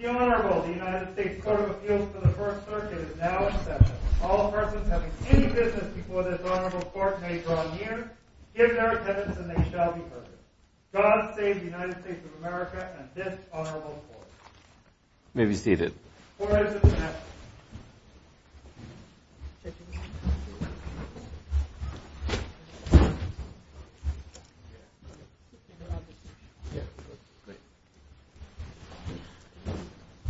The Honorable, the United States Court of Appeals for the First Circuit is now in session. All persons having any business before this Honorable Court may draw near, give their attendance, and they shall be heard. God save the United States of America and this Honorable Court. You may be seated. Court is adjourned.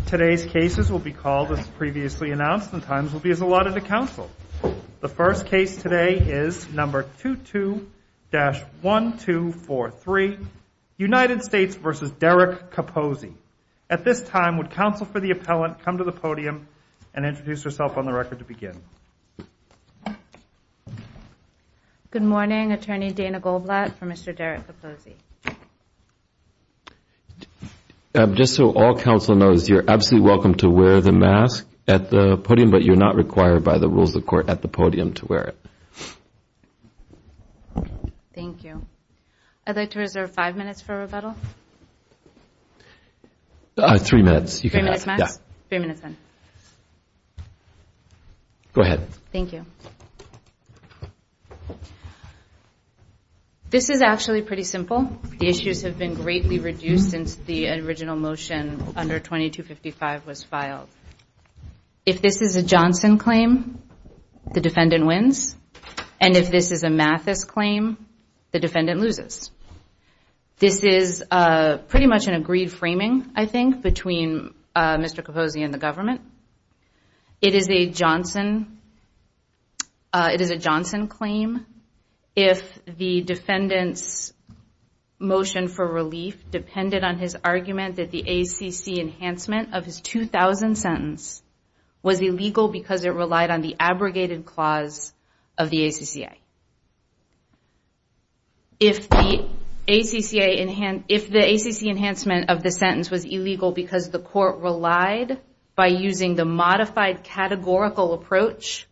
Today's cases will be called, as previously announced, and times will be as allotted to counsel. The first case today is number 22-1243, United States v. Derek Capozzi. At this time, would counsel for the appellant come to the podium and introduce herself on the record to begin? Good morning. Attorney Dana Goldblatt for Mr. Derek Capozzi. Just so all counsel knows, you're absolutely welcome to wear the mask at the podium, but you're not required by the rules of court at the podium to wear it. Thank you. I'd like to reserve five minutes for rebuttal. Three minutes. Three minutes max? Yeah. Three minutes then. Go ahead. Thank you. This is actually pretty simple. The issues have been greatly reduced since the original motion under 2255 was filed. If this is a Johnson claim, the defendant wins, and if this is a Mathis claim, the defendant loses. This is pretty much an agreed framing, I think, between Mr. Capozzi and the government. It is a Johnson claim if the defendant's motion for relief depended on his argument that the ACC enhancement of his 2000 sentence was illegal because it relied on the abrogated clause of the ACCA. If the ACC enhancement of the sentence was illegal because the court relied by using the modified categorical approach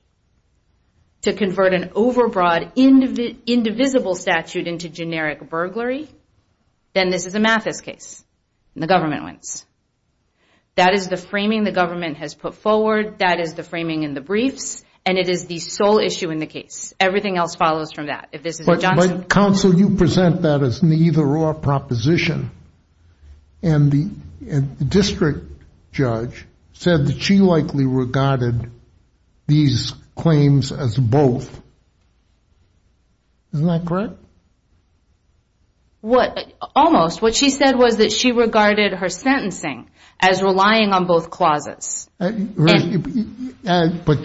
to convert an overbroad, indivisible statute into generic burglary, then this is a Mathis case, and the government wins. That is the framing the government has put forward. That is the framing in the briefs, and it is the sole issue in the case. Everything else follows from that. Counsel, you present that as neither-or proposition, and the district judge said that she likely regarded these claims as both. Isn't that correct? Almost. What she said was that she regarded her sentencing as relying on both clauses. But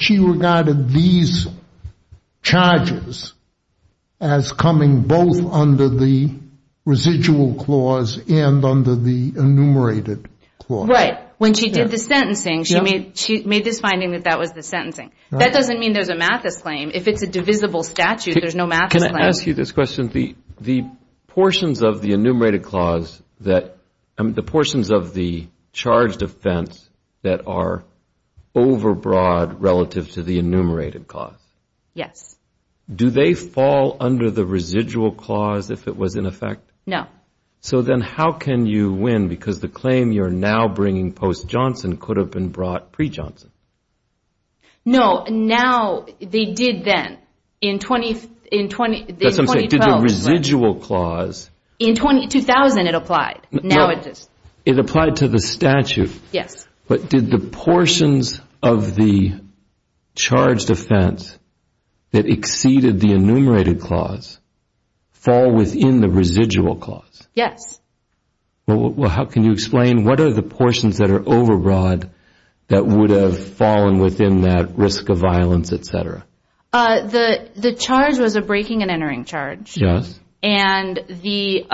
she regarded these charges as coming both under the residual clause and under the enumerated clause. Right. When she did the sentencing, she made this finding that that was the sentencing. That doesn't mean there's a Mathis claim. If it's a divisible statute, there's no Mathis claim. Can I ask you this question? The portions of the enumerated clause, the portions of the charged offense that are overbroad relative to the enumerated clause. Yes. Do they fall under the residual clause if it was in effect? No. So then how can you win? Because the claim you're now bringing post-Johnson could have been brought pre-Johnson. No. They did then in 2012. That's what I'm saying. Did the residual clause. In 2000 it applied. Now it just. It applied to the statute. Yes. But did the portions of the charged offense that exceeded the enumerated clause fall within the residual clause? Yes. Well, how can you explain what are the portions that are overbroad that would have fallen within that risk of violence, et cetera? The charge was a breaking and entering charge. Yes. And the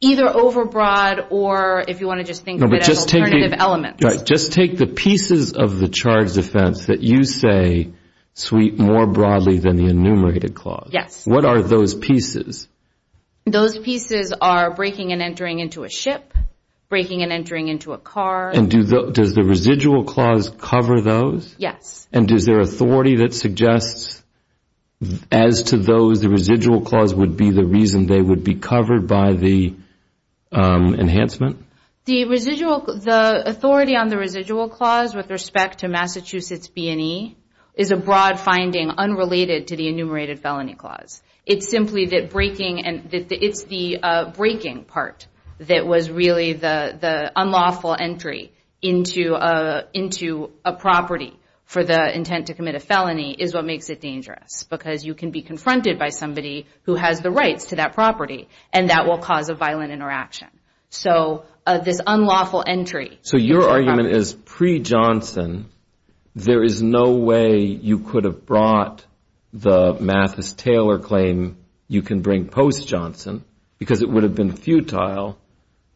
either overbroad or if you want to just think of it as alternative elements. Just take the pieces of the charged offense that you say sweep more broadly than the enumerated clause. Yes. What are those pieces? Those pieces are breaking and entering into a ship, breaking and entering into a car. And does the residual clause cover those? Yes. And is there authority that suggests as to those the residual clause would be the reason they would be covered by the enhancement? The authority on the residual clause with respect to Massachusetts B&E is a broad finding unrelated to the enumerated felony clause. It's simply that breaking and it's the breaking part that was really the unlawful entry into a property for the intent to commit a felony is what makes it dangerous because you can be confronted by somebody who has the rights to that property and that will cause a violent interaction. So this unlawful entry. So your argument is pre-Johnson there is no way you could have brought the Mathis-Taylor claim you can bring post-Johnson because it would have been futile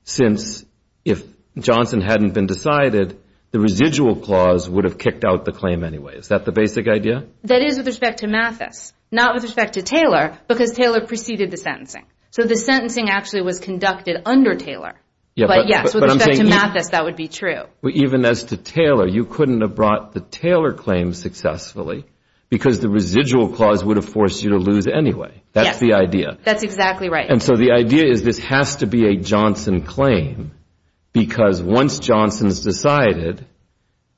since if Johnson hadn't been decided, the residual clause would have kicked out the claim anyway. Is that the basic idea? That is with respect to Mathis, not with respect to Taylor because Taylor preceded the sentencing. So the sentencing actually was conducted under Taylor. But yes, with respect to Mathis, that would be true. Even as to Taylor, you couldn't have brought the Taylor claim successfully because the residual clause would have forced you to lose anyway. That's the idea. That's exactly right. And so the idea is this has to be a Johnson claim because once Johnson is decided,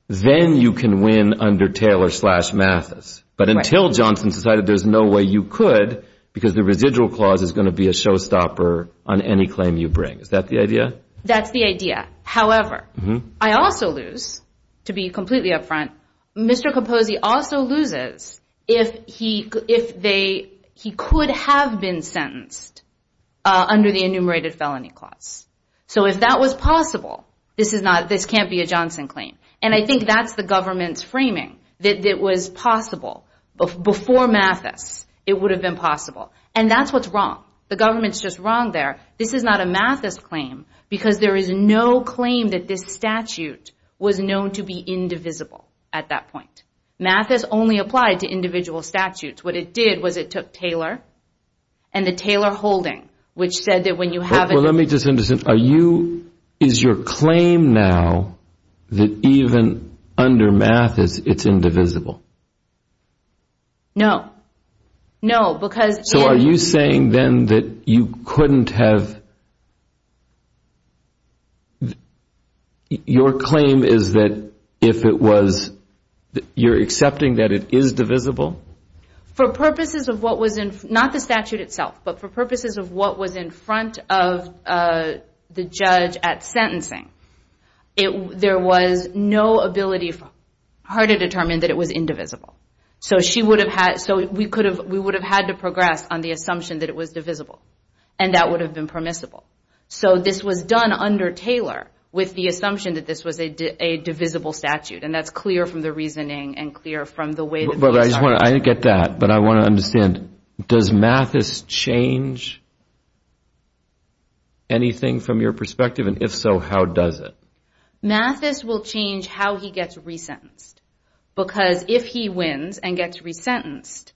then you can win under Taylor slash Mathis. But until Johnson is decided, there's no way you could because the residual clause is going to be a showstopper on any claim you bring. Is that the idea? That's the idea. However, I also lose to be completely up front. Mr. Capozzi also loses if he could have been sentenced under the enumerated felony clause. So if that was possible, this can't be a Johnson claim. And I think that's the government's framing that it was possible. Before Mathis, it would have been possible. And that's what's wrong. The government's just wrong there. This is not a Mathis claim because there is no claim that this statute was known to be indivisible at that point. Mathis only applied to individual statutes. What it did was it took Taylor and the Taylor holding, which said that when you have a Well, let me just understand. Are you, is your claim now that even under Mathis, it's indivisible? No. No, because So are you saying then that you couldn't have Your claim is that if it was, you're accepting that it is divisible? For purposes of what was in, not the statute itself, but for purposes of what was in front of the judge at sentencing, there was no ability for her to determine that it was indivisible. So we would have had to progress on the assumption that it was divisible. And that would have been permissible. So this was done under Taylor with the assumption that this was a divisible statute. And that's clear from the reasoning and clear from the way that I get that, but I want to understand, does Mathis change anything from your perspective? And if so, how does it? Mathis will change how he gets resentenced. Because if he wins and gets resentenced,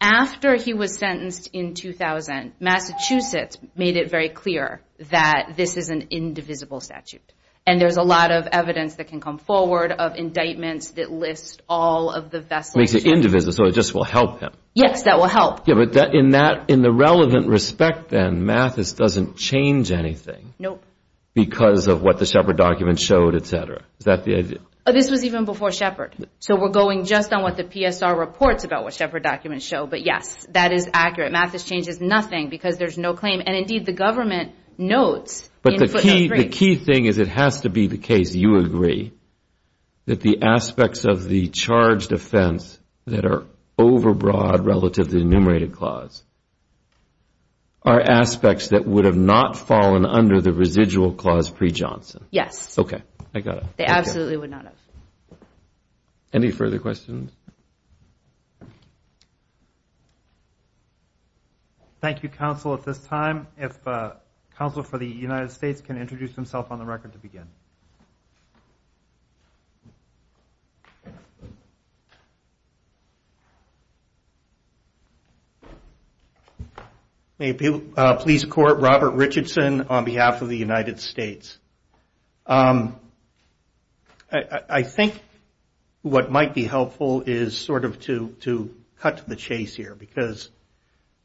after he was sentenced in 2000, Massachusetts made it very clear that this is an indivisible statute. And there's a lot of evidence that can come forward of indictments that list all of the vessels. Makes it indivisible, so it just will help him. Yes, that will help. Yeah, but in that, in the relevant respect then, Mathis doesn't change anything. Nope. Because of what the Shepard document showed, et cetera. Is that the idea? This was even before Shepard. So we're going just on what the PSR reports about what Shepard documents show. But, yes, that is accurate. Mathis changes nothing because there's no claim. And, indeed, the government notes. But the key thing is it has to be the case, you agree, that the aspects of the charged offense that are overbroad relative to the enumerated clause are aspects that would have not fallen under the residual clause pre-Johnson. Yes. Okay, I got it. They absolutely would not have. Any further questions? Thank you, counsel, at this time. If counsel for the United States can introduce himself on the record to begin. May it please the court. Robert Richardson on behalf of the United States. I think what might be helpful is sort of to cut to the chase here.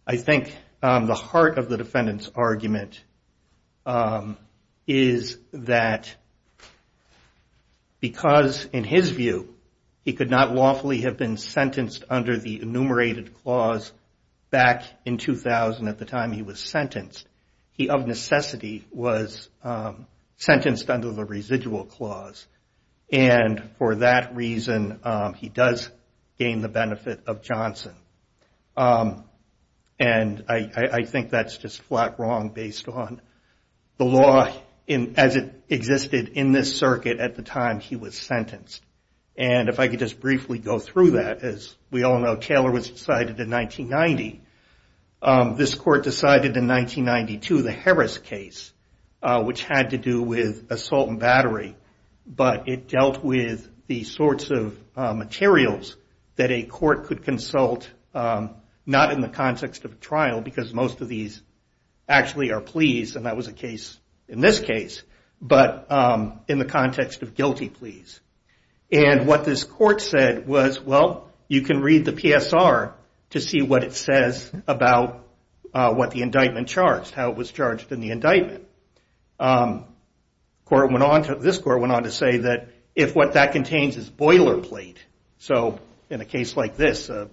I think the heart of the defendant's argument is that because, in his view, he could not lawfully have been sentenced under the enumerated clause back in 2000 at the time he was sentenced. He, of necessity, was sentenced under the residual clause. And for that reason, he does gain the benefit of Johnson. And I think that's just flat wrong based on the law as it existed in this circuit at the time he was sentenced. And if I could just briefly go through that. As we all know, Taylor was decided in 1990. This court decided in 1992 the Harris case, which had to do with assault and battery. But it dealt with the sorts of materials that a court could consult, not in the context of a trial, because most of these actually are pleas, and that was the case in this case, but in the context of guilty pleas. And what this court said was, well, you can read the PSR to see what it says about what the indictment charged, how it was charged in the indictment. This court went on to say that if what that contains is boilerplate, so in a case like this, an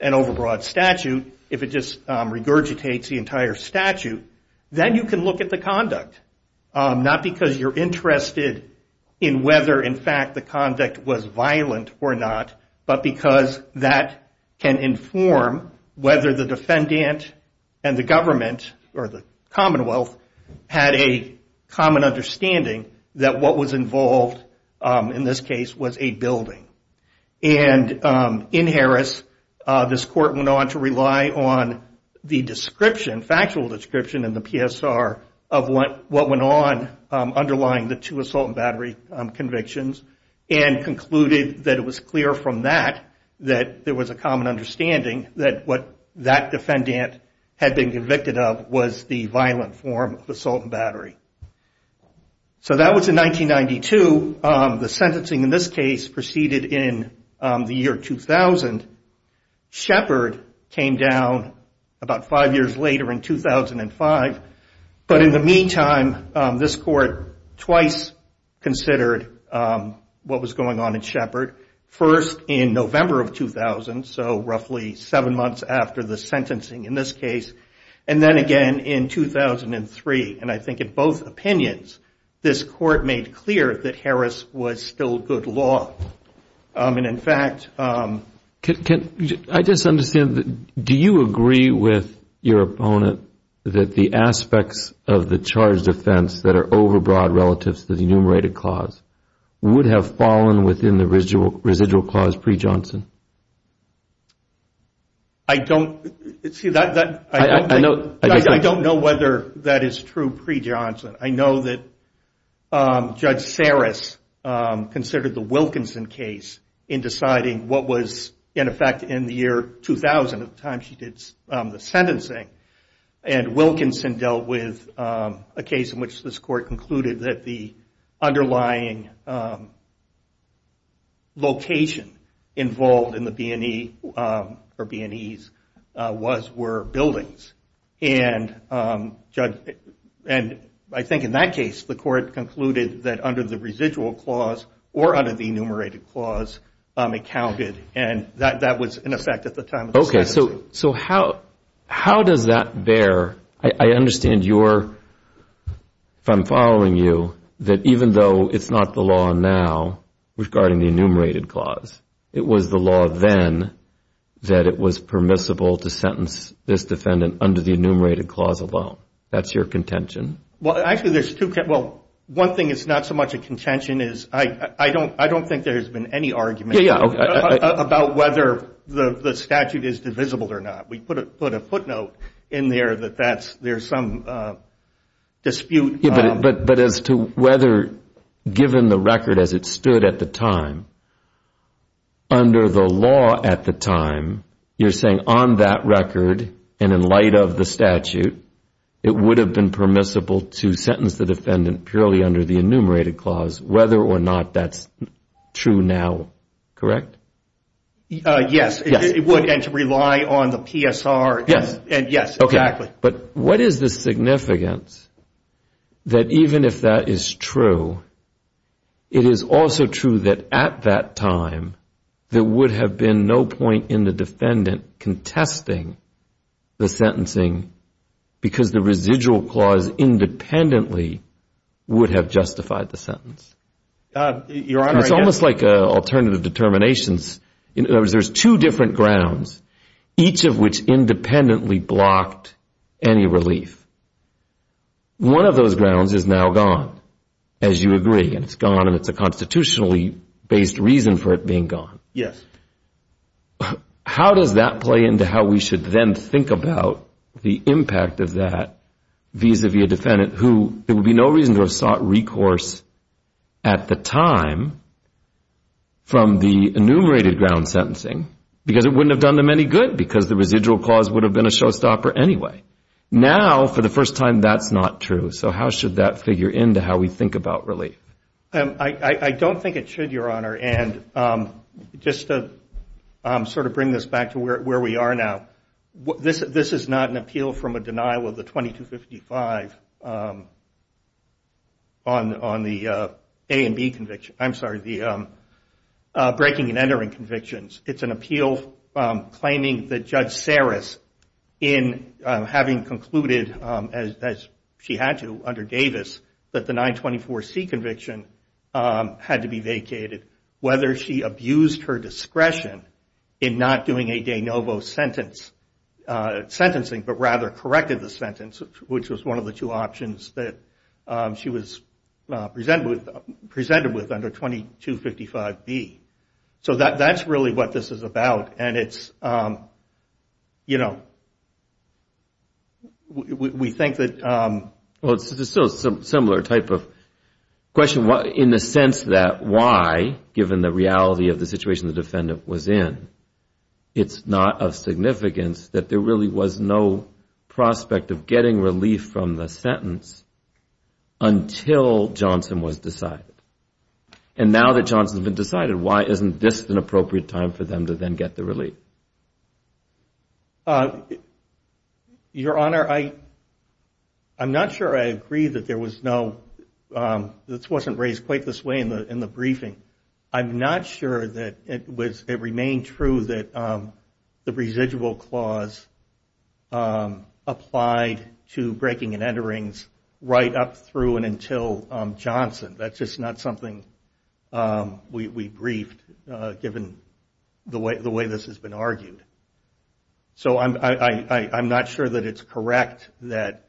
overbroad statute, if it just regurgitates the entire statute, then you can look at the conduct, not because you're interested in whether, in fact, the conduct was violent or not, but because that can inform whether the defendant and the government or the Commonwealth had a common understanding that what was involved in this case was a building. And in Harris, this court went on to rely on the description, factual description in the PSR of what went on underlying the two assault and battery convictions and concluded that it was clear from that that there was a common understanding that what that defendant had been convicted of was the violent form of assault and battery. So that was in 1992. The sentencing in this case proceeded in the year 2000. Shepard came down about five years later in 2005, but in the meantime, this court twice considered what was going on in Shepard, first in November of 2000, so roughly seven months after the sentencing in this case, and then again in 2003. And I think in both opinions, this court made clear that Harris was still good law. And, in fact, I just understand, do you agree with your opponent that the aspects of the charged offense that are overbroad relative to the enumerated clause would have fallen within the residual clause pre-Johnson? I don't see that. I don't know whether that is true pre-Johnson. I know that Judge Saris considered the Wilkinson case in deciding what was, in effect, in the year 2000, at the time she did the sentencing, and Wilkinson dealt with a case in which this court concluded that the underlying location involved in the B&E or B&Es were buildings. And I think in that case, the court concluded that under the residual clause or under the enumerated clause, it counted, and that was, in effect, at the time of the sentencing. Okay, so how does that bear? I understand your, if I'm following you, that even though it's not the law now regarding the enumerated clause, it was the law then that it was permissible to sentence this defendant under the enumerated clause alone. That's your contention? Well, actually, there's two, well, one thing is not so much a contention is I don't think there has been any argument about whether the statute is divisible or not. We put a footnote in there that that's, there's some dispute. But as to whether, given the record as it stood at the time, under the law at the time, you're saying on that record and in light of the statute, it would have been permissible to sentence the defendant purely under the enumerated clause, whether or not that's true now, correct? Yes, it would, and to rely on the PSR, yes, exactly. But what is the significance that even if that is true, it is also true that at that time there would have been no point in the defendant contesting the sentencing because the residual clause independently would have justified the sentence? It's almost like alternative determinations. In other words, there's two different grounds, each of which independently blocked any relief. One of those grounds is now gone, as you agree, and it's gone and it's a constitutionally based reason for it being gone. Yes. How does that play into how we should then think about the impact of that vis-à-vis a defendant who, there would be no reason to have sought recourse at the time from the enumerated ground sentencing, because it wouldn't have done them any good because the residual clause would have been a showstopper anyway. Now, for the first time, that's not true. So how should that figure into how we think about relief? I don't think it should, Your Honor, and just to sort of bring this back to where we are now, this is not an appeal from a denial of the 2255 on the A and B convictions, I'm sorry, the breaking and entering convictions. It's an appeal claiming that Judge Saris, in having concluded, as she had to under Davis, that the 924C conviction had to be vacated, whether she abused her discretion in not doing a de novo sentence, sentencing, but rather corrected the sentence, which was one of the two options that she was presented with under 2255B. So that's really what this is about, and it's, you know, we think that... Well, it's a similar type of question, in the sense that why, given the reality of the situation the defendant was in, it's not of significance that there really was no prospect of getting relief from the sentence until Johnson was decided. And now that Johnson's been decided, why isn't this an appropriate time for them to then get the relief? Your Honor, I'm not sure I agree that there was no... This wasn't raised quite this way in the briefing. I'm not sure that it was... It remained true that the residual clause applied to breaking and enterings right up through and until Johnson. That's just not something we briefed, given the way this has been argued. So I'm not sure that it's correct that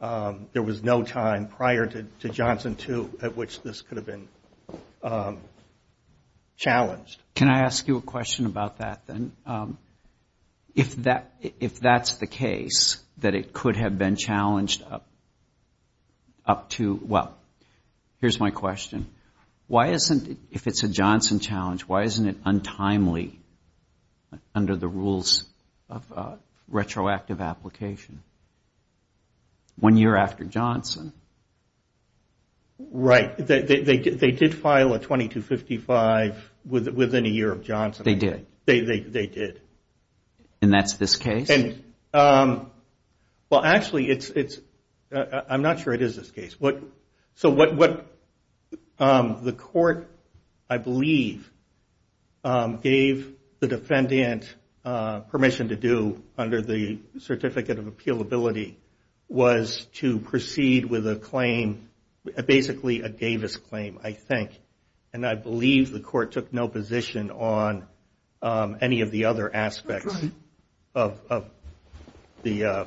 there was no time prior to Johnson 2 at which this could have been challenged. Can I ask you a question about that, then? If that's the case, that it could have been challenged up to... Well, here's my question. Why isn't, if it's a Johnson challenge, why isn't it untimely under the rules of retroactive application? One year after Johnson? Right. They did file a 2255 within a year of Johnson. They did. And that's this case? Well, actually, I'm not sure it is this case. The court, I believe, gave the defendant permission to do under the Certificate of Appealability was to proceed with a claim, basically a Davis claim, I think. And I believe the court took no position on any of the other aspects of the...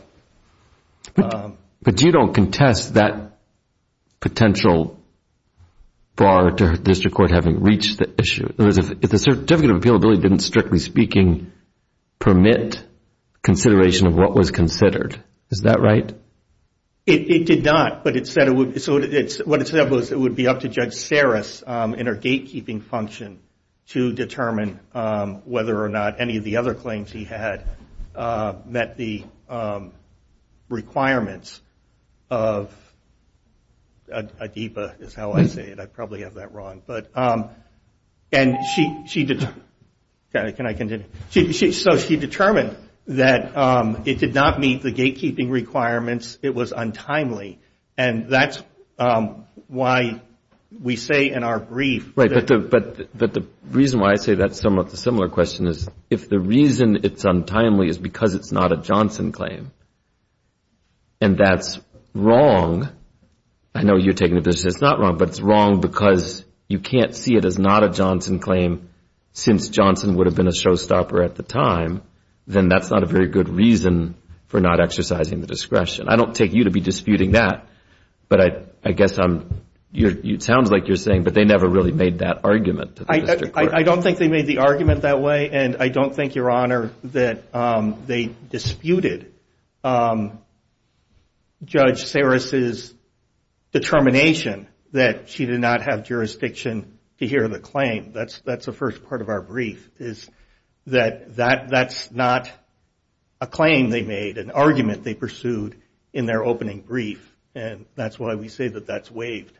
But you don't contest that potential bar to the district court having reached the issue. If the Certificate of Appealability didn't, strictly speaking, permit consideration of what was considered, is that right? It did not, but it said it would... So what it said was it would be up to Judge Saris in her gatekeeping function to determine whether or not any of the other claims he had met the requirements of... ADEPA is how I say it. I probably have that wrong. So she determined that it did not meet the gatekeeping requirements. It was untimely. And that's why we say in our brief... But the reason why I say that's a similar question is if the reason it's untimely is because it's not a Johnson claim, and that's wrong, I know you're taking the position it's not wrong, but it's wrong because you can't see it as not a Johnson claim, since Johnson would have been a showstopper at the time, then that's not a very good reason for not exercising the discretion. I don't take you to be disputing that, but I guess I'm... It sounds like you're saying, but they never really made that argument to the district court. I don't think they made the argument that way, and I don't think, Your Honor, that they disputed that claim. Judge Sarris's determination that she did not have jurisdiction to hear the claim, that's the first part of our brief. That's not a claim they made, an argument they pursued in their opening brief, and that's why we say that that's waived.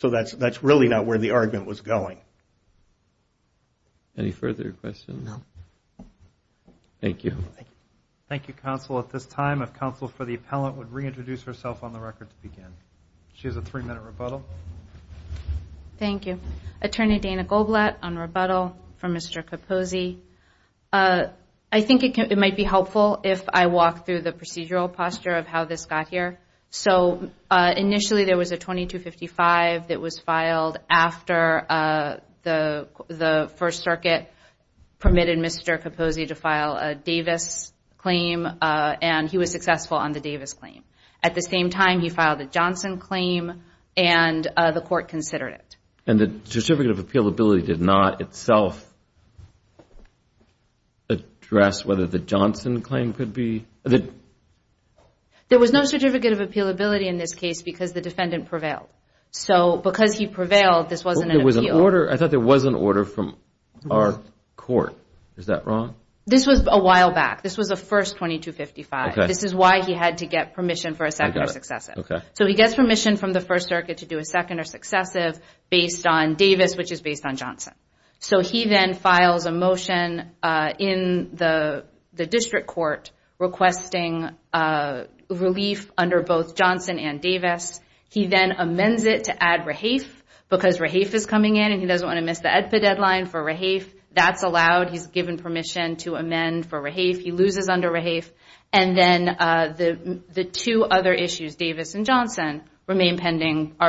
So that's really not where the argument was going. Any further questions? No. Thank you. Thank you, counsel. At this time, if counsel for the appellant would reintroduce herself on the record to begin. She has a three-minute rebuttal. Thank you. Attorney Dana Goldblatt on rebuttal for Mr. Capozzi. I think it might be helpful if I walk through the procedural posture of how this got here. Initially, there was a 2255 that was filed after the First Circuit permitted Mr. Capozzi to file a Davis claim, and he was successful on the Davis claim. At the same time, he filed a Johnson claim, and the court considered it. And the certificate of appealability did not itself address whether the Johnson claim could be? There was no certificate of appealability in this case because the defendant prevailed. I thought there was an order from our court. Is that wrong? This was a while back. This was a first 2255. This is why he had to get permission for a second or successive. He gets permission from the First Circuit to do a second or successive based on Davis, which is based on Johnson. He then files a motion in the district court requesting relief under both Johnson and Davis. He then amends it to add Rahaf because Rahaf is coming in and he doesn't want to miss the EDPA deadline for Rahaf. That's allowed. He's given permission to amend for Rahaf. He loses under Rahaf. And then the two other issues, Davis and Johnson, are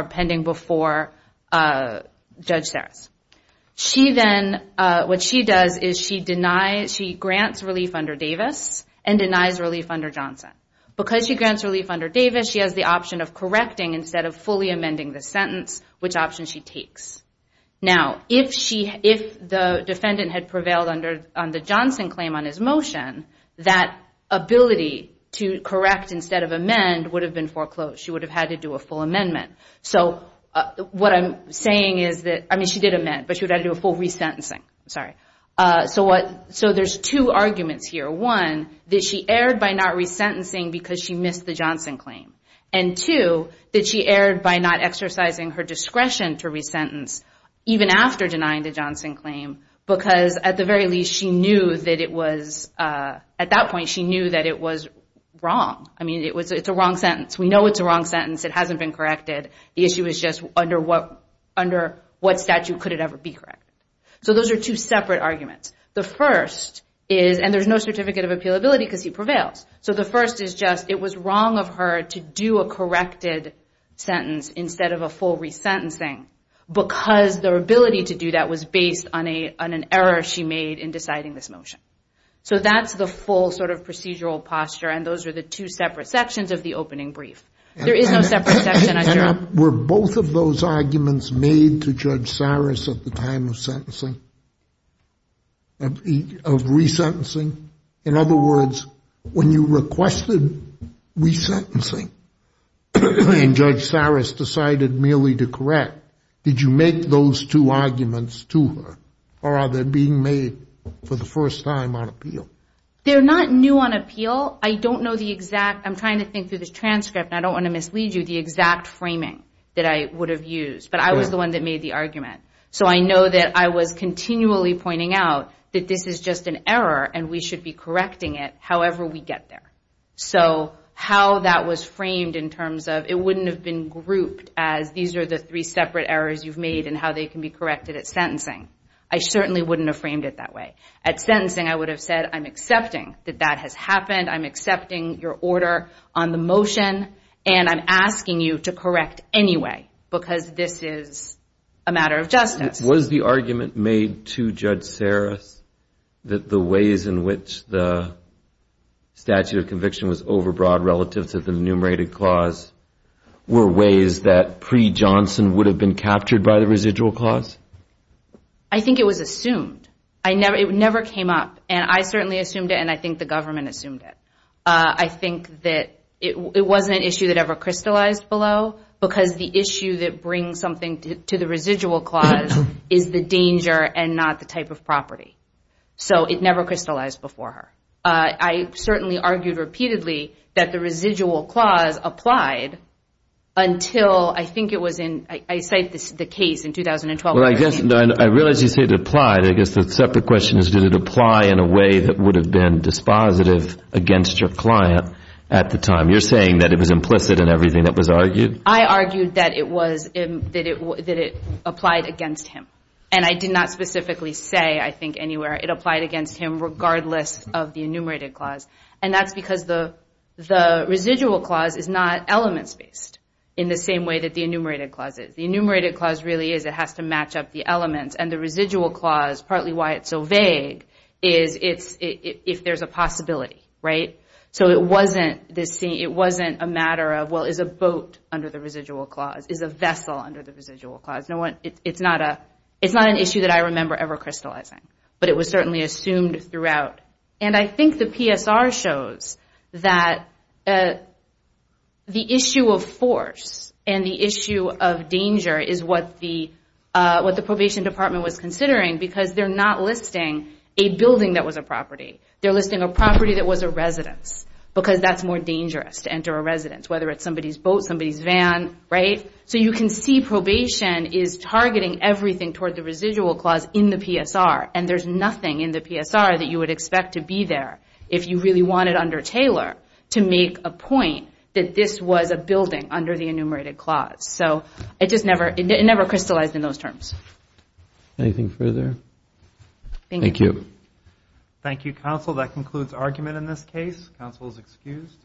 pending before Judge Sarris. What she does is she grants relief under Davis and denies relief under Johnson. Because she grants relief under Davis, she has the option of correcting instead of fully amending the sentence, which option she takes. Now, if the defendant had prevailed on the Johnson claim on his motion, that ability to correct instead of amend would have been foreclosed. She would have had to do a full amendment. So what I'm saying is that, I mean, she did amend, but she would have had to do a full resentencing. So there's two arguments here. One, that she erred by not resentencing because she missed the Johnson claim. And two, that she erred by not exercising her discretion to resentence even after denying the Johnson claim, because at the very least, at that point, she knew that it was wrong. I mean, it's a wrong sentence. We know it's a wrong sentence. It hasn't been corrected. The issue is just under what statute could it ever be corrected? So those are two separate arguments. And there's no certificate of appealability because he prevails. So the first is just it was wrong of her to do a corrected sentence instead of a full resentencing because their ability to do that was based on an error she made in deciding this motion. So that's the full sort of procedural posture. And those are the two separate sections of the opening brief. There is no separate section. Were both of those arguments made to Judge Saris at the time of sentencing, of resentencing? In other words, when you requested resentencing and Judge Saris decided merely to correct, did you make those two arguments to her or are they being made for the first time on appeal? They're not new on appeal. I don't know the exact. I'm trying to think through this transcript. I don't want to mislead you. The exact framing that I would have used. But I was the one that made the argument. So I know that I was continually pointing out that this is just an error and we should be correcting it however we get there. So how that was framed in terms of it wouldn't have been grouped as these are the three separate errors you've made and how they can be corrected at sentencing. I certainly wouldn't have framed it that way. At sentencing, I would have said, I'm accepting that that has happened. I'm accepting your order on the motion. And I'm asking you to correct anyway because this is a matter of justice. Was the argument made to Judge Saris that the ways in which the statute of conviction was overbroad relative to the enumerated clause were ways that pre-Johnson would have been captured by the residual clause? I think it was assumed. It never came up. And I certainly assumed it and I think the government assumed it. I think that it wasn't an issue that ever crystallized below because the issue that brings something to the residual clause is the danger and not the type of property. So it never crystallized before her. I certainly argued repeatedly that the residual clause applied until I think it was in, I cite the case in 2012. I realize you say it applied. I guess the separate question is did it apply in a way that would have been dispositive against your client at the time? You're saying that it was implicit in everything that was argued? I argued that it applied against him. And I did not specifically say I think anywhere it applied against him regardless of the enumerated clause. And that's because the residual clause is not elements-based in the same way that the enumerated clause is. The enumerated clause really is, it has to match up the elements. And the residual clause, partly why it's so vague, is if there's a possibility, right? So it wasn't a matter of, well, is a boat under the residual clause? Is a vessel under the residual clause? It's not an issue that I remember ever crystallizing. But it was certainly assumed throughout. And I think the PSR shows that the issue of force and the issue of danger is what the probation department was considering because they're not listing a building that was a property. They're listing a property that was a residence because that's more dangerous to enter a residence, whether it's somebody's boat, somebody's van, right? So you can see probation is targeting everything toward the residual clause in the PSR. And there's nothing in the PSR that you would expect to be there if you really wanted under Taylor to make a point that this was a Anything further? Thank you. Thank you, counsel. That concludes argument in this case. Counsel is excused.